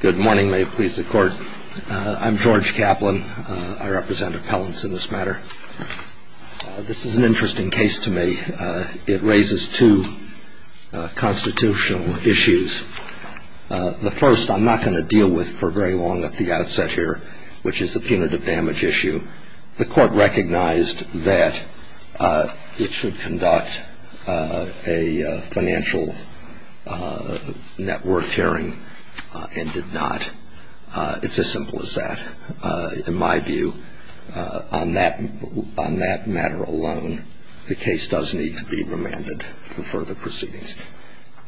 Good morning. May it please the Court. I'm George Kaplan. I represent appellants in this matter. This is an interesting case to me. It raises two constitutional issues. The first I'm not going to deal with for very long at the outset here, which is the punitive damage issue. The Court recognized that it should conduct a financial net worth hearing and did not. It's as simple as that. In my view, on that matter alone, the case does need to be remanded for further proceedings.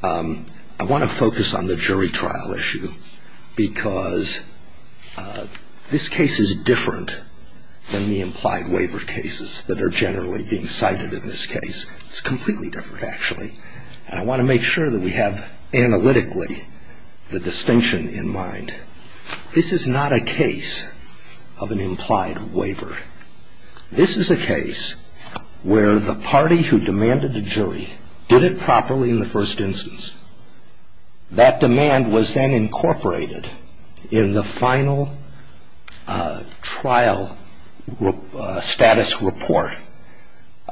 I want to focus on the jury trial issue because this case is different than the implied waiver cases that are generally being cited in this case. It's completely different, actually. And I want to make sure that we have, analytically, the distinction in mind. This is not a case of an implied waiver. This is a case where the party who demanded a jury did it properly in the first instance. That demand was then incorporated in the final trial status report.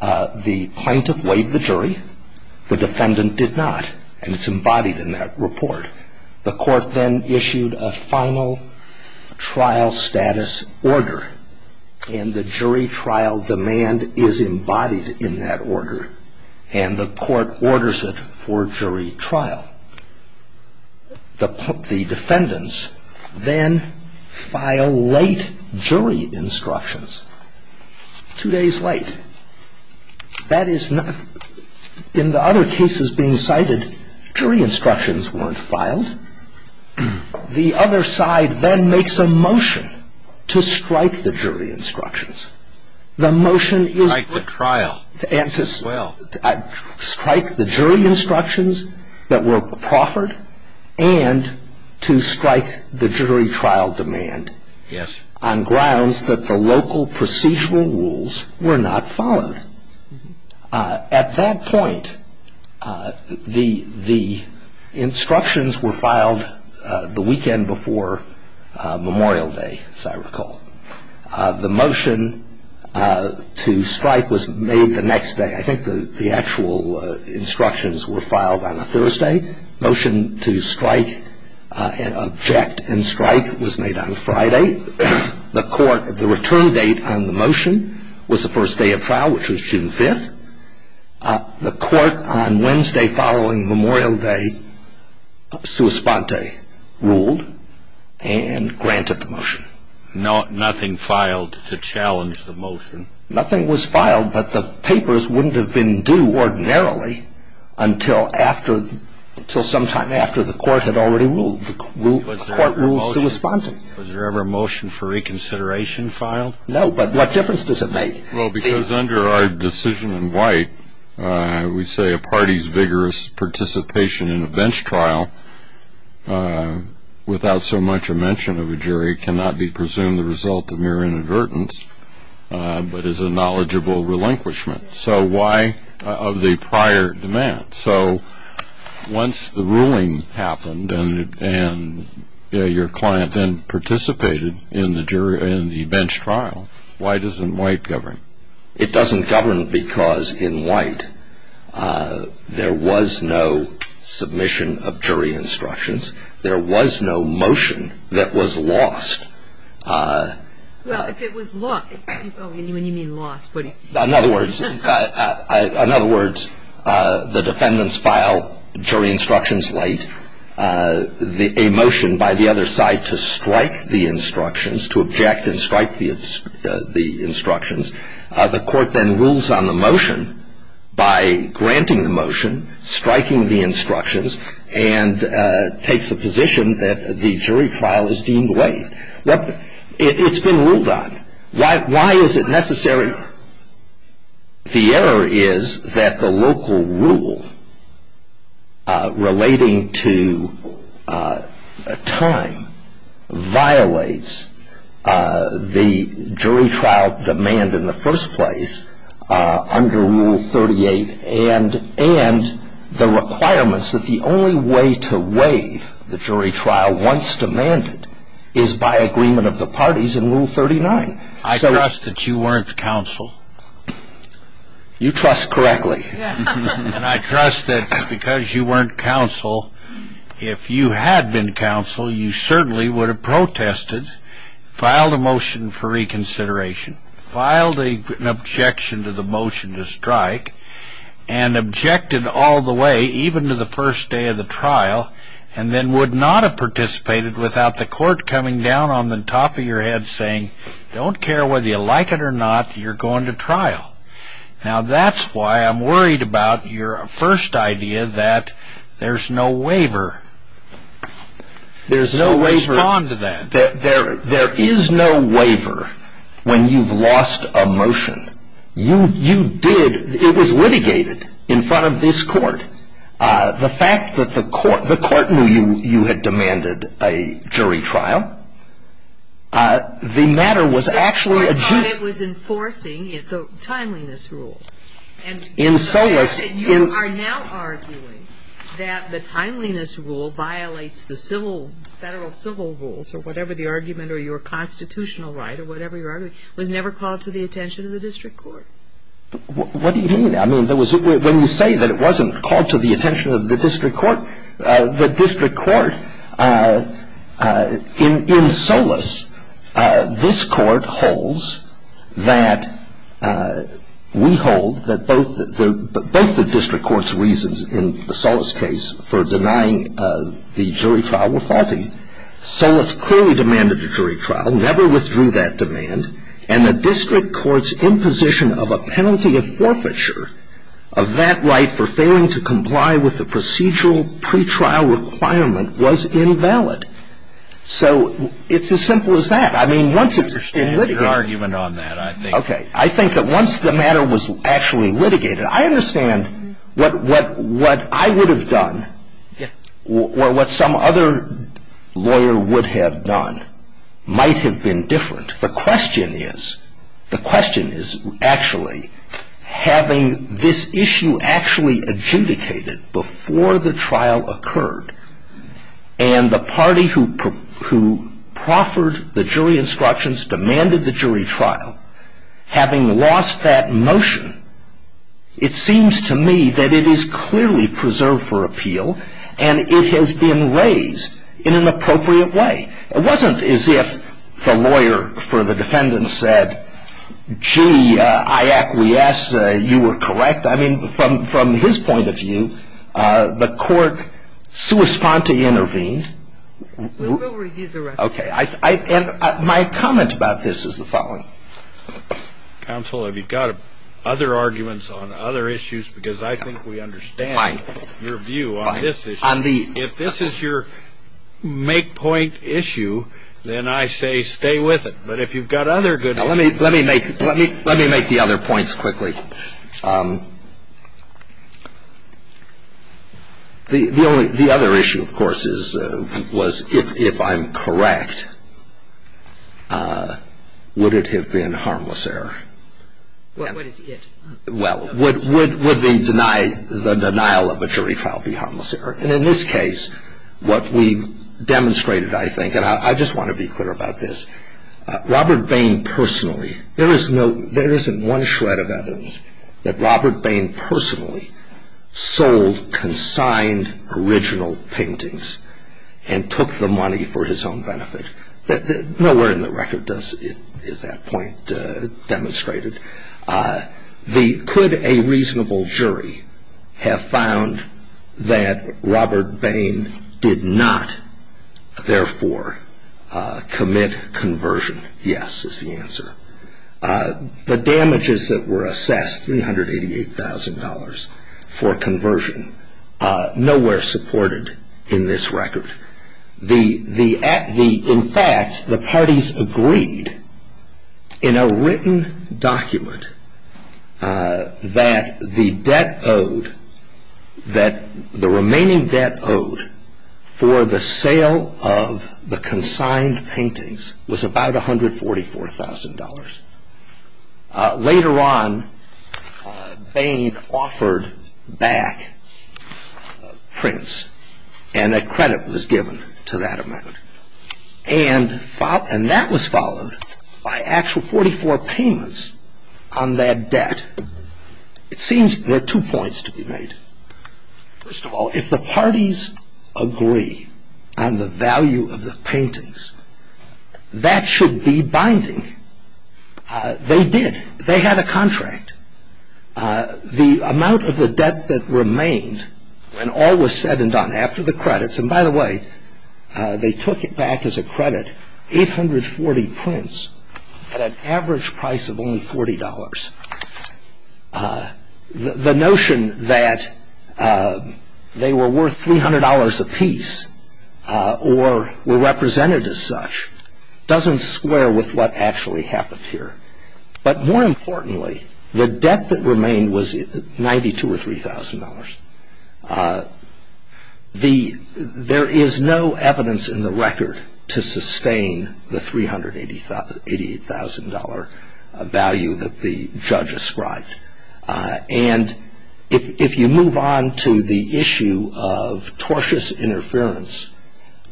The plaintiff waived the jury. The defendant did not. And it's embodied in that report. The Court then issued a final trial status order. And the jury trial demand is embodied in that order. And the Court orders it for jury trial. The defendants then file late jury instructions. Two days late. That is not — in the other cases being cited, jury instructions weren't filed. The other side then makes a motion to strike the jury instructions. The motion is — Strike the trial. Strike the jury instructions that were proffered and to strike the jury trial demand on grounds that the local procedural rules were not followed. At that point, the instructions were filed the weekend before Memorial Day, as I recall. The motion to strike was made the next day. I think the actual instructions were filed on a Thursday. Motion to strike and object and strike was made on a Friday. The Court — the return date on the motion was the first day of trial, which was June 5th. The Court on Wednesday following Memorial Day, sua sponte, ruled and granted the motion. Nothing filed to challenge the motion? Nothing was filed, but the papers wouldn't have been due ordinarily until after — until sometime after the Court had already ruled. The Court ruled sua sponte. Was there ever a motion for reconsideration filed? No, but what difference does it make? Well, because under our decision in white, we say a party's vigorous participation in a bench trial, without so much a mention of a jury, cannot be presumed the result of mere inadvertence, but is a knowledgeable relinquishment. So why — of the prior demand? So once the ruling happened and your client then participated in the jury — in the bench trial, why doesn't white govern? It doesn't govern because in white, there was no submission of jury instructions. There was no motion that was lost. Well, if it was lost — when you mean lost, what do you mean? In other words, the defendants filed jury instructions late. A motion by the other side to strike the instructions, to object and strike the instructions. The Court then rules on the motion by granting the motion, striking the instructions, and takes the position that the jury trial is deemed waived. It's been ruled on. Why is it necessary? The error is that the local rule relating to time violates the jury trial demand in the first place under Rule 38 and the requirements that the only way to waive the jury trial once demanded is by agreement of the parties in Rule 39. I trust that you weren't counsel. You trust correctly. And I trust that because you weren't counsel, if you had been counsel, you certainly would have protested, filed a motion for reconsideration, filed an objection to the motion to strike, and objected all the way, even to the first day of the trial, and then would not have participated without the Court coming down on the top of your head saying, don't care whether you like it or not, you're going to trial. Now that's why I'm worried about your first idea that there's no waiver. There's no waiver. Respond to that. There is no waiver when you've lost a motion. You did, it was litigated in front of this Court. The fact that the Court knew you had demanded a jury trial, the matter was actually a jury trial. But the Court thought it was enforcing the timeliness rule. In Solis. You are now arguing that the timeliness rule violates the civil, Federal civil rules, or whatever the argument, or your constitutional right, or whatever your argument, was never called to the attention of the district court. What do you mean? I mean, when you say that it wasn't called to the attention of the district court, the district court in Solis, this Court holds that we hold that both the district court's reasons in the Solis case for denying the jury trial were faulty. Solis clearly demanded a jury trial, never withdrew that demand, and the district court's imposition of a penalty of forfeiture of that right for failing to comply with the procedural pretrial requirement was invalid. So it's as simple as that. I mean, once it's been litigated. I understand your argument on that. Okay. I think that once the matter was actually litigated, I understand what I would have done, or what some other lawyer would have done, might have been different. The question is, the question is actually having this issue actually adjudicated before the trial occurred, and the party who proffered the jury instructions demanded the jury trial. Having lost that motion, it seems to me that it is clearly preserved for appeal, and it has been raised in an appropriate way. It wasn't as if the lawyer for the defendant said, gee, I acquiesce, you were correct. I mean, from his point of view, the court sua sponte intervened. We'll review the record. Okay. And my comment about this is the following. Counsel, have you got other arguments on other issues? Because I think we understand your view on this issue. If this is your make-point issue, then I say stay with it. But if you've got other good ones. Let me make the other points quickly. The other issue, of course, was if I'm correct, would it have been harmless error? What is it? Well, would the denial of a jury trial be harmless error? And in this case, what we demonstrated, I think, and I just want to be clear about this, Robert Bain personally, there isn't one shred of evidence that Robert Bain personally sold consigned original paintings and took the money for his own benefit. Nowhere in the record is that point demonstrated. Could a reasonable jury have found that Robert Bain did not, therefore, commit conversion? Yes is the answer. The damages that were assessed, $388,000 for conversion, nowhere supported in this record. In fact, the parties agreed in a written document that the debt owed, that the remaining debt owed for the sale of the consigned paintings was about $144,000. Later on, Bain offered back prints, and a credit was given to that amount. And that was followed by actual 44 payments on that debt. It seems there are two points to be made. First of all, if the parties agree on the value of the paintings, that should be binding. They did. They had a contract. The amount of the debt that remained, and all was said and done after the credits, and by the way, they took it back as a credit, 840 prints at an average price of only $40. The notion that they were worth $300 apiece, or were represented as such, doesn't square with what actually happened here. But more importantly, the debt that remained was $92,000 or $3,000. There is no evidence in the record to sustain the $388,000 value that the judge ascribed. And if you move on to the issue of tortious interference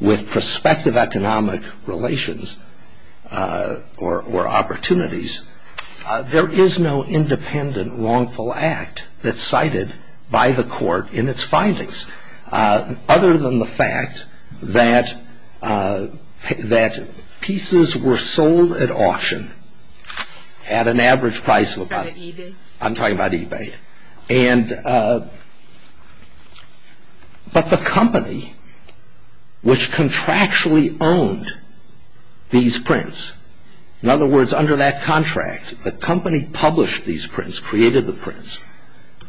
with prospective economic relations or opportunities, there is no independent wrongful act that's cited by the court in its findings, other than the fact that pieces were sold at auction at an average price of about. I'm talking about eBay. But the company which contractually owned these prints, in other words, under that contract, the company published these prints, created the prints,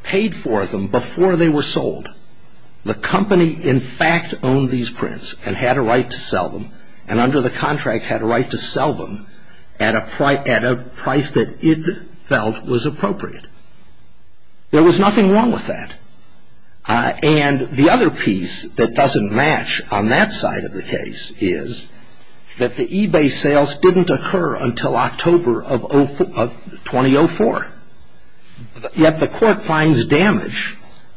paid for them before they were sold. The company in fact owned these prints and had a right to sell them, and under the contract had a right to sell them at a price that it felt was appropriate. There was nothing wrong with that. And the other piece that doesn't match on that side of the case is that the eBay sales didn't occur until October of 2004. Yet the court finds damage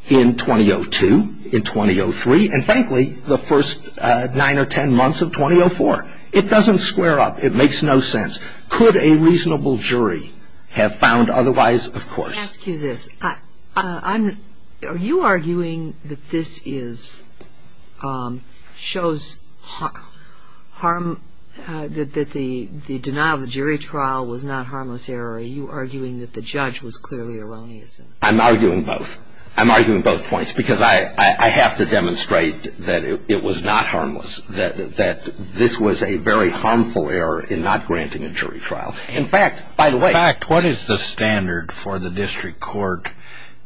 in 2002, in 2003, and frankly, the first nine or ten months of 2004. It doesn't square up. It makes no sense. Could a reasonable jury have found otherwise, of course. Let me ask you this. Are you arguing that this shows harm, that the denial of the jury trial was not harmless error, or are you arguing that the judge was clearly erroneous? I'm arguing both. I'm arguing both points because I have to demonstrate that it was not harmless, that this was a very harmful error in not granting a jury trial. In fact, what is the standard for the district court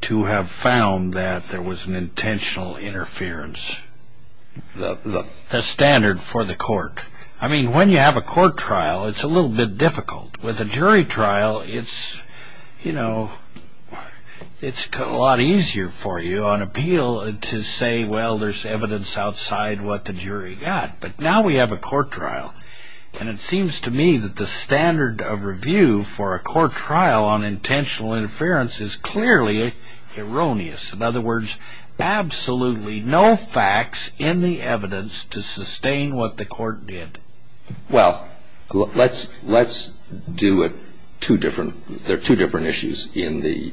to have found that there was an intentional interference? The standard for the court. I mean, when you have a court trial, it's a little bit difficult. With a jury trial, it's a lot easier for you on appeal to say, well, there's evidence outside what the jury got. But now we have a court trial, and it seems to me that the standard of review for a court trial on intentional interference is clearly erroneous. In other words, absolutely no facts in the evidence to sustain what the court did. Well, let's do it two different. There are two different issues in the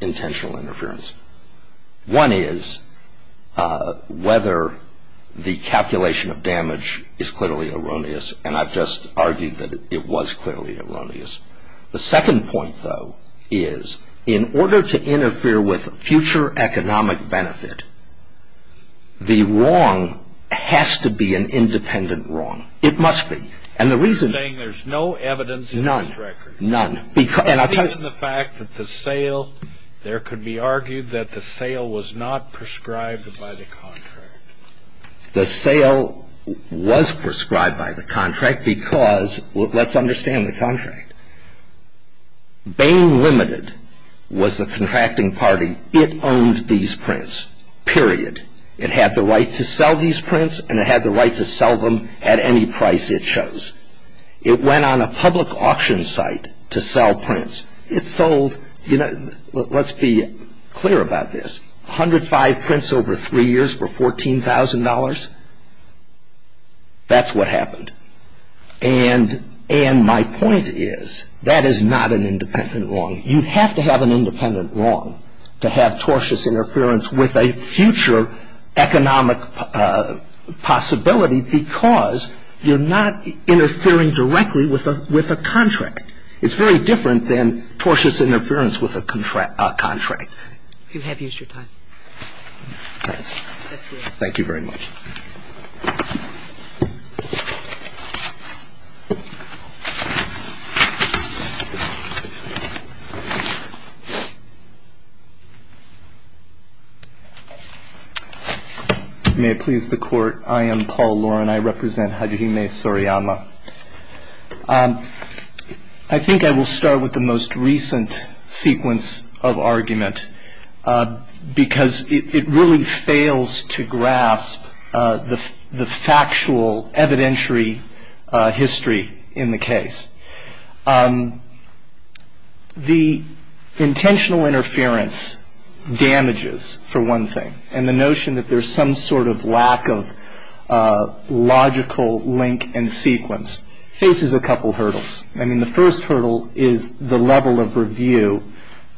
intentional interference. One is whether the calculation of damage is clearly erroneous, and I've just argued that it was clearly erroneous. The second point, though, is in order to interfere with future economic benefit, the wrong has to be an independent wrong. It must be. And the reason you're saying there's no evidence in this record. None. None. It's in the fact that the sale, there could be argued that the sale was not prescribed by the contract. The sale was prescribed by the contract because, let's understand the contract. Bain Limited was the contracting party. It owned these prints, period. It had the right to sell these prints, and it had the right to sell them at any price it chose. It went on a public auction site to sell prints. It sold, you know, let's be clear about this, 105 prints over three years for $14,000. That's what happened. And my point is that is not an independent wrong. You have to have an independent wrong to have tortious interference with a future economic possibility because you're not interfering directly with a contract. It's very different than tortious interference with a contract. You have used your time. Thanks. Thank you very much. Thank you. I am Paul Loren. I represent Hajime Soriyama. I think I will start with the most recent sequence of argument, because it really fails to grasp the factual evidentiary history in the case. The intentional interference damages, for one thing, and the notion that there is some sort of lack of logical link and sequence, faces a couple hurdles. I mean, the first hurdle is the level of review,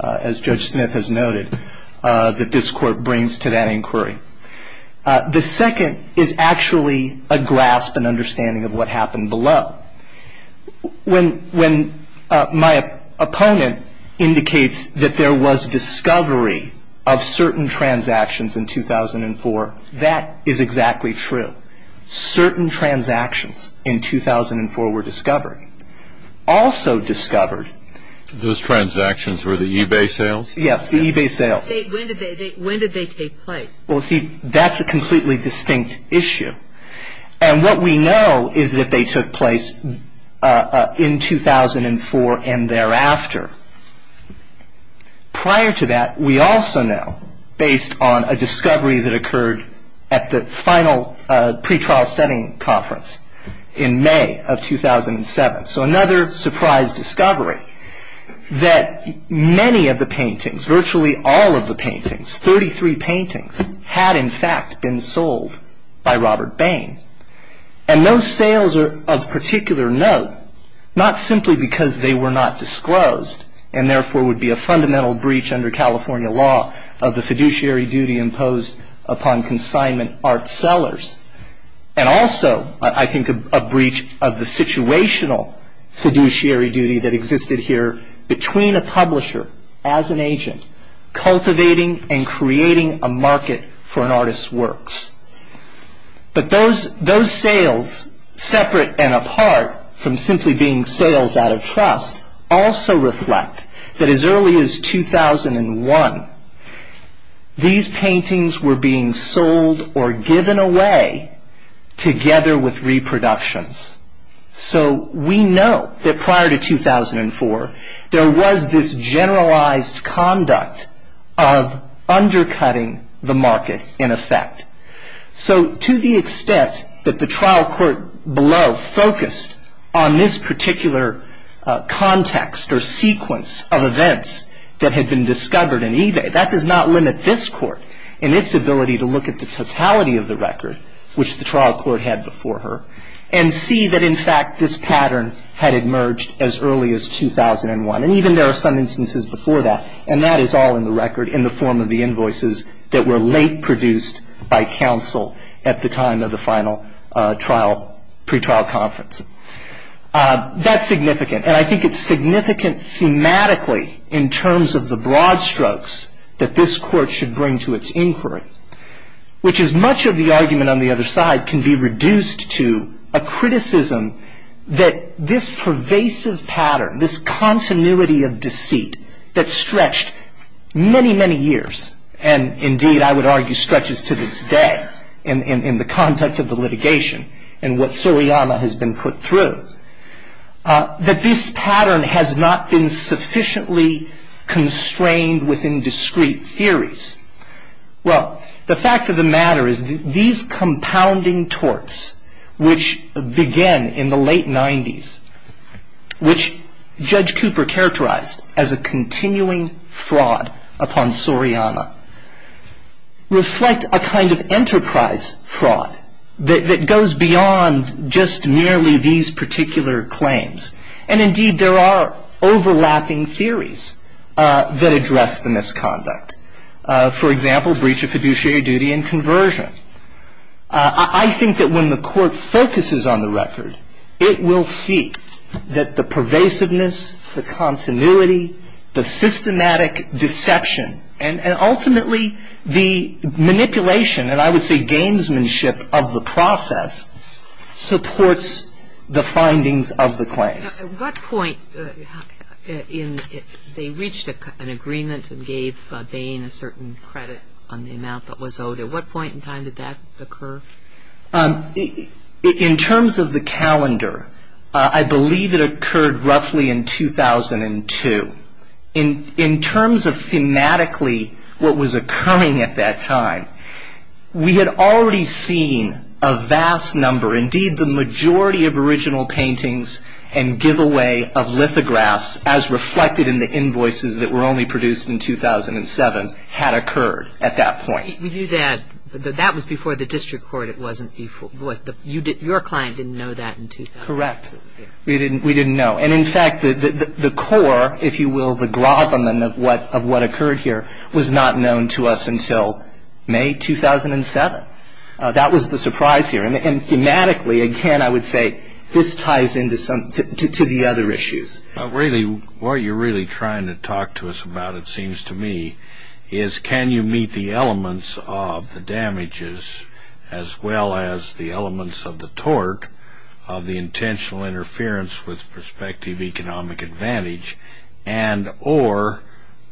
as Judge Smith has noted, that this Court brings to that inquiry. The second is actually a grasp and understanding of what happened below. When my opponent indicates that there was discovery of certain transactions in 2004, that is exactly true. Certain transactions in 2004 were discovered. Also discovered. Those transactions were the eBay sales? Yes, the eBay sales. When did they take place? Well, see, that's a completely distinct issue. And what we know is that they took place in 2004 and thereafter. Prior to that, we also know, based on a discovery that occurred at the final pretrial setting conference in May of 2007, so another surprise discovery, that many of the paintings, virtually all of the paintings, 33 paintings, had in fact been sold by Robert Bain. And those sales of particular note, not simply because they were not disclosed and therefore would be a fundamental breach under California law of the fiduciary duty imposed upon consignment art sellers, and also, I think, a breach of the situational fiduciary duty that existed here between a publisher as an agent cultivating and creating a market for an artist's works. But those sales, separate and apart from simply being sales out of trust, also reflect that as early as 2001, these paintings were being sold or given away together with reproductions. So we know that prior to 2004, there was this generalized conduct of undercutting the market in effect. So to the extent that the trial court below focused on this particular context or sequence of events that had been discovered in eBay, that does not limit this court in its ability to look at the totality of the record, which the trial court had before her, and see that, in fact, this pattern had emerged as early as 2001. And even there are some instances before that. And that is all in the record in the form of the invoices that were late produced by counsel at the time of the final trial, pretrial conference. That's significant. And I think it's significant thematically in terms of the broad strokes that this court should bring to its inquiry, which is much of the argument on the other side can be reduced to a criticism that this pervasive pattern, this continuity of deceit that stretched many, many years, and indeed I would argue stretches to this day in the conduct of the litigation and what Suriyama has been put through, that this pattern has not been sufficiently constrained within discrete theories. Well, the fact of the matter is these compounding torts, which began in the late 90s, which Judge Cooper characterized as a continuing fraud upon Suriyama, reflect a kind of enterprise fraud that goes beyond just merely these particular claims. And indeed, there are overlapping theories that address the misconduct. For example, breach of fiduciary duty and conversion. I think that when the court focuses on the record, it will see that the pervasiveness, the continuity, the systematic deception, and ultimately the manipulation, and I would say gamesmanship of the process, supports the findings of the claims. Now, at what point in they reached an agreement and gave Bain a certain credit on the amount that was owed, at what point in time did that occur? In terms of the calendar, I believe it occurred roughly in 2002. In terms of thematically what was occurring at that time, we had already seen a vast number, indeed the majority of original paintings and giveaway of lithographs as reflected in the invoices that were only produced in 2007, had occurred at that point. We knew that. That was before the district court. Your client didn't know that in 2007. Correct. We didn't know. And, in fact, the core, if you will, the grothamon of what occurred here was not known to us until May 2007. That was the surprise here. And thematically, again, I would say this ties into the other issues. What you're really trying to talk to us about, it seems to me, is can you meet the elements of the damages as well as the elements of the tort of the intentional interference with prospective economic advantage and or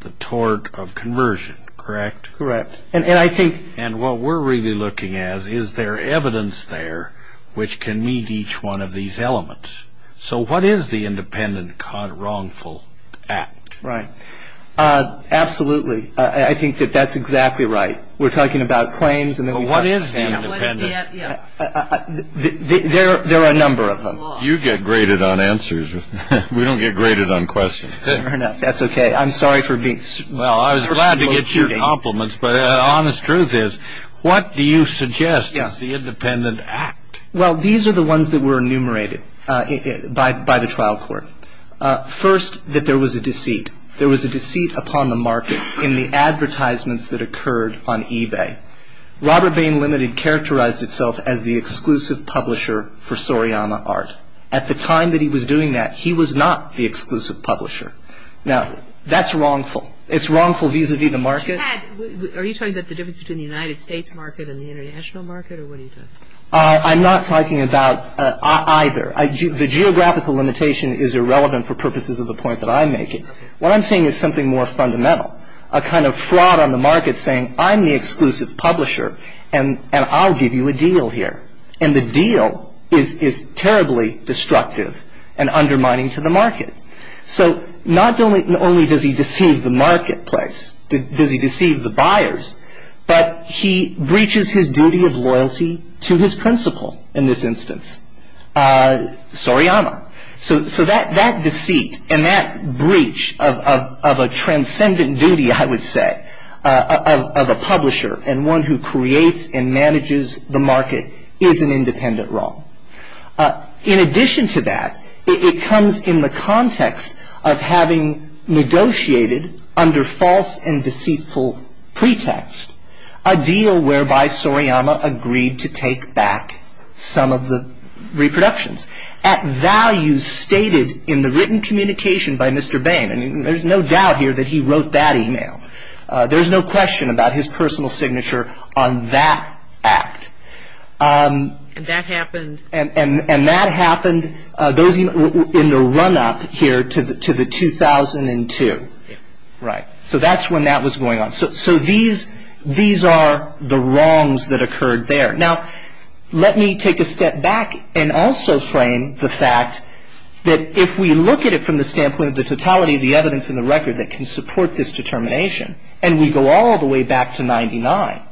the tort of conversion, correct? Correct. And what we're really looking at is there evidence there which can meet each one of these elements. So what is the independent wrongful act? Right. Absolutely. I think that that's exactly right. We're talking about claims. But what is the independent? There are a number of them. You get graded on answers. We don't get graded on questions. Fair enough. That's okay. I'm sorry for being sort of low-shooting. Well, I was glad to get your compliments, but the honest truth is what do you suggest is the independent act? Well, these are the ones that were enumerated by the trial court. First, that there was a deceit. There was a deceit upon the market in the advertisements that occurred on eBay. Robert Bain Limited characterized itself as the exclusive publisher for Soriyama Art. At the time that he was doing that, he was not the exclusive publisher. Now, that's wrongful. It's wrongful vis-à-vis the market. Are you talking about the difference between the United States market and the international market, or what are you talking about? I'm not talking about either. The geographical limitation is irrelevant for purposes of the point that I'm making. What I'm saying is something more fundamental, a kind of fraud on the market saying, I'm the exclusive publisher, and I'll give you a deal here. And the deal is terribly destructive and undermining to the market. So not only does he deceive the marketplace, does he deceive the buyers, but he breaches his duty of loyalty to his principal in this instance, Soriyama. So that deceit and that breach of a transcendent duty, I would say, of a publisher and one who creates and manages the market is an independent wrong. In addition to that, it comes in the context of having negotiated under false and deceitful pretext a deal whereby Soriyama agreed to take back some of the reproductions. At values stated in the written communication by Mr. Bain, and there's no doubt here that he wrote that e-mail. There's no question about his personal signature on that act. And that happened? And that happened in the run-up here to the 2002. Right. So that's when that was going on. So these are the wrongs that occurred there. Now, let me take a step back and also frame the fact that if we look at it from the standpoint of the totality of the evidence in the record that can support this determination, and we go all the way back to 99,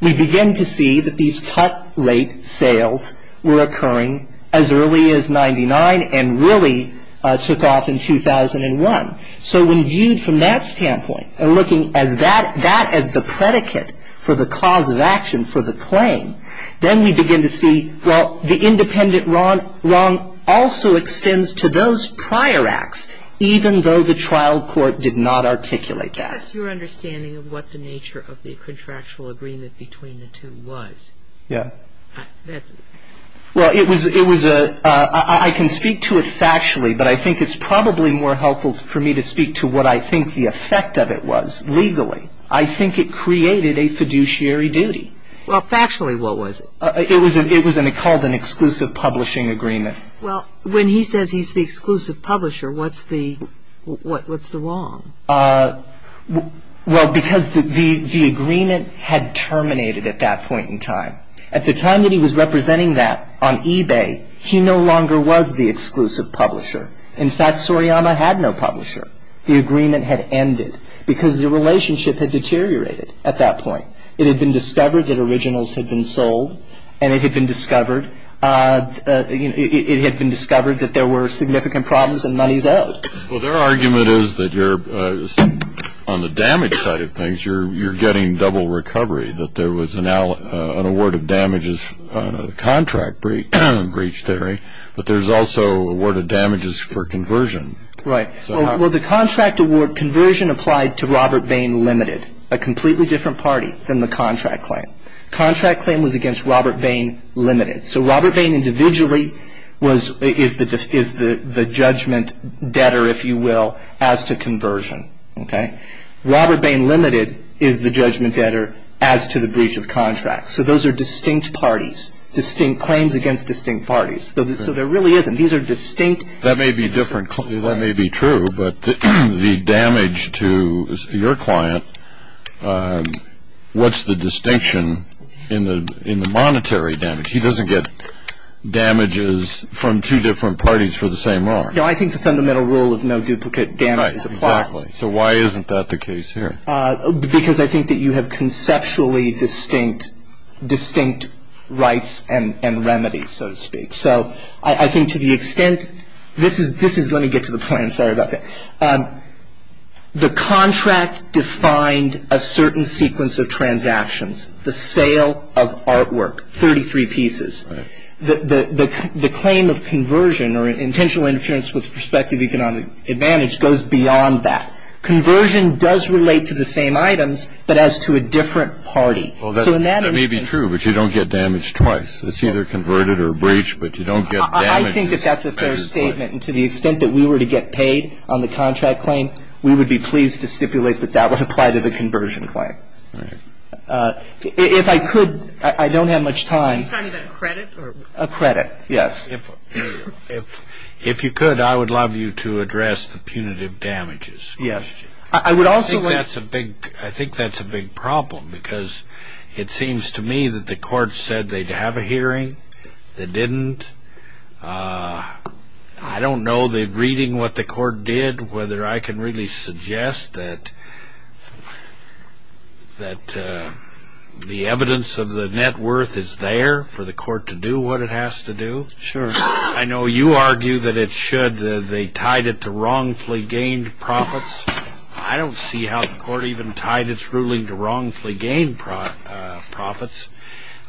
we begin to see that these cut rate sales were occurring as early as 99 and really took off in 2001. So when viewed from that standpoint and looking at that as the predicate for the cause of action for the claim, then we begin to see, well, the independent wrong also extends to those prior acts, even though the trial court did not articulate that. What's your understanding of what the nature of the contractual agreement between the two was? Yeah. Well, it was a, I can speak to it factually, but I think it's probably more helpful for me to speak to what I think the effect of it was legally. I think it created a fiduciary duty. Well, factually what was it? It was called an exclusive publishing agreement. Well, when he says he's the exclusive publisher, what's the wrong? Well, because the agreement had terminated at that point in time. At the time that he was representing that on eBay, he no longer was the exclusive publisher. In fact, Soriyama had no publisher. The agreement had ended because the relationship had deteriorated at that point. It had been discovered that originals had been sold, and it had been discovered that there were significant problems and monies owed. Well, their argument is that you're, on the damage side of things, you're getting double recovery, that there was an award of damages on a contract breach theory, but there's also awarded damages for conversion. Right. Well, the contract award conversion applied to Robert Bain Limited, a completely different party than the contract claim. Contract claim was against Robert Bain Limited. So Robert Bain individually is the judgment debtor, if you will, as to conversion. Okay? Robert Bain Limited is the judgment debtor as to the breach of contract. So those are distinct parties, distinct claims against distinct parties. So there really isn't. These are distinct. That may be different. That may be true. But the damage to your client, what's the distinction in the monetary damage? He doesn't get damages from two different parties for the same art. No, I think the fundamental rule of no duplicate damage is applied. Right. Exactly. So why isn't that the case here? Because I think that you have conceptually distinct rights and remedies, so to speak. So I think to the extent this is – let me get to the point. I'm sorry about that. The contract defined a certain sequence of transactions. The sale of artwork, 33 pieces. Right. The claim of conversion or intentional interference with prospective economic advantage goes beyond that. Conversion does relate to the same items, but as to a different party. Well, that may be true, but you don't get damage twice. It's either converted or breached, but you don't get damages. I think that that's a fair statement. And to the extent that we were to get paid on the contract claim, we would be pleased to stipulate that that would apply to the conversion claim. Right. If I could, I don't have much time. Are you talking about credit? A credit, yes. If you could, I would love you to address the punitive damages question. Yes. I would also like – I think that's a big problem because it seems to me that the court said they'd have a hearing. They didn't. I don't know that reading what the court did, whether I can really suggest that the evidence of the net worth is there for the court to do what it has to do. Sure. I know you argue that it should. They tied it to wrongfully gained profits. I don't see how the court even tied its ruling to wrongfully gained profits.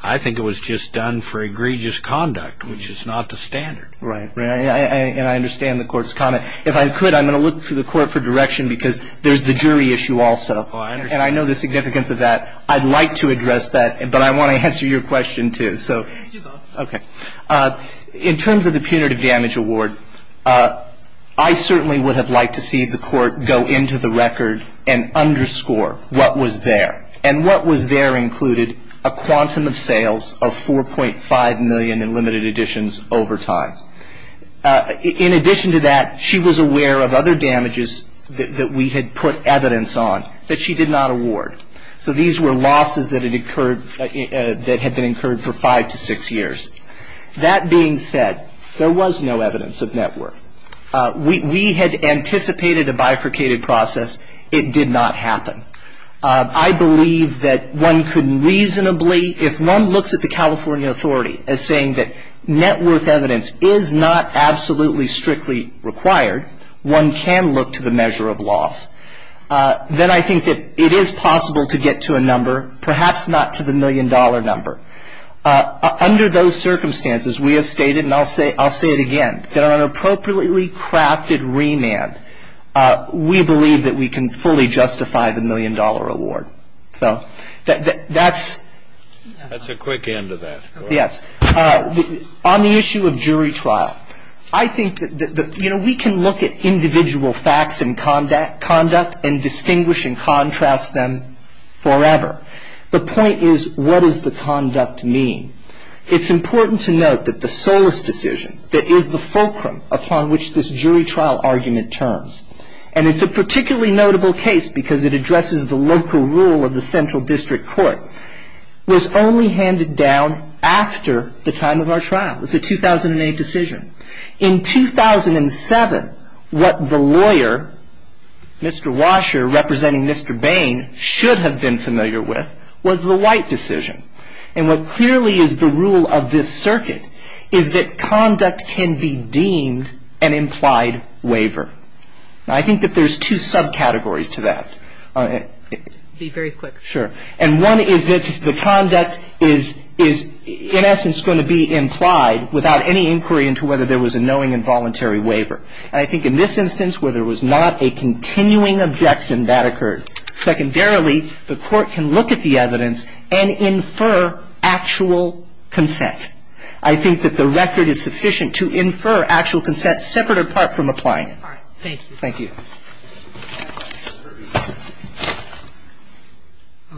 I think it was just done for egregious conduct, which is not the standard. Right. And I understand the court's comment. If I could, I'm going to look to the court for direction because there's the jury issue also. And I know the significance of that. I'd like to address that, but I want to answer your question, too. Let's do both. Okay. In terms of the punitive damage award, I certainly would have liked to see the court go into the record and underscore what was there and what was there included a quantum of sales of 4.5 million in limited editions over time. In addition to that, she was aware of other damages that we had put evidence on that she did not award. So these were losses that had been incurred for five to six years. That being said, there was no evidence of net worth. We had anticipated a bifurcated process. It did not happen. I believe that one could reasonably, if one looks at the California authority as saying that net worth evidence is not absolutely strictly required, one can look to the measure of loss, then I think that it is possible to get to a number, perhaps not to the million-dollar number. Under those circumstances, we have stated, and I'll say it again, that on an appropriately crafted remand, we believe that we can fully justify the million-dollar award. So that's — That's a quick end to that. Yes. On the issue of jury trial, I think that, you know, we can look at individual facts and conduct and distinguish and contrast them forever. The point is, what does the conduct mean? It's important to note that the Solis decision, that is the fulcrum upon which this jury trial argument turns, and it's a particularly notable case because it addresses the local rule of the Central District Court, was only handed down after the time of our trial. It's a 2008 decision. In 2007, what the lawyer, Mr. Washer, representing Mr. Bain, should have been familiar with, was the White decision. And what clearly is the rule of this circuit is that conduct can be deemed an implied waiver. Now, I think that there's two subcategories to that. Be very quick. Sure. And one is that the conduct is, in essence, going to be implied without any inquiry into whether there was a knowing involuntary waiver. And I think in this instance, where there was not a continuing objection, that occurred. Secondarily, the Court can look at the evidence and infer actual consent. I think that the record is sufficient to infer actual consent separate apart from applying it. All right. Thank you. Thank you.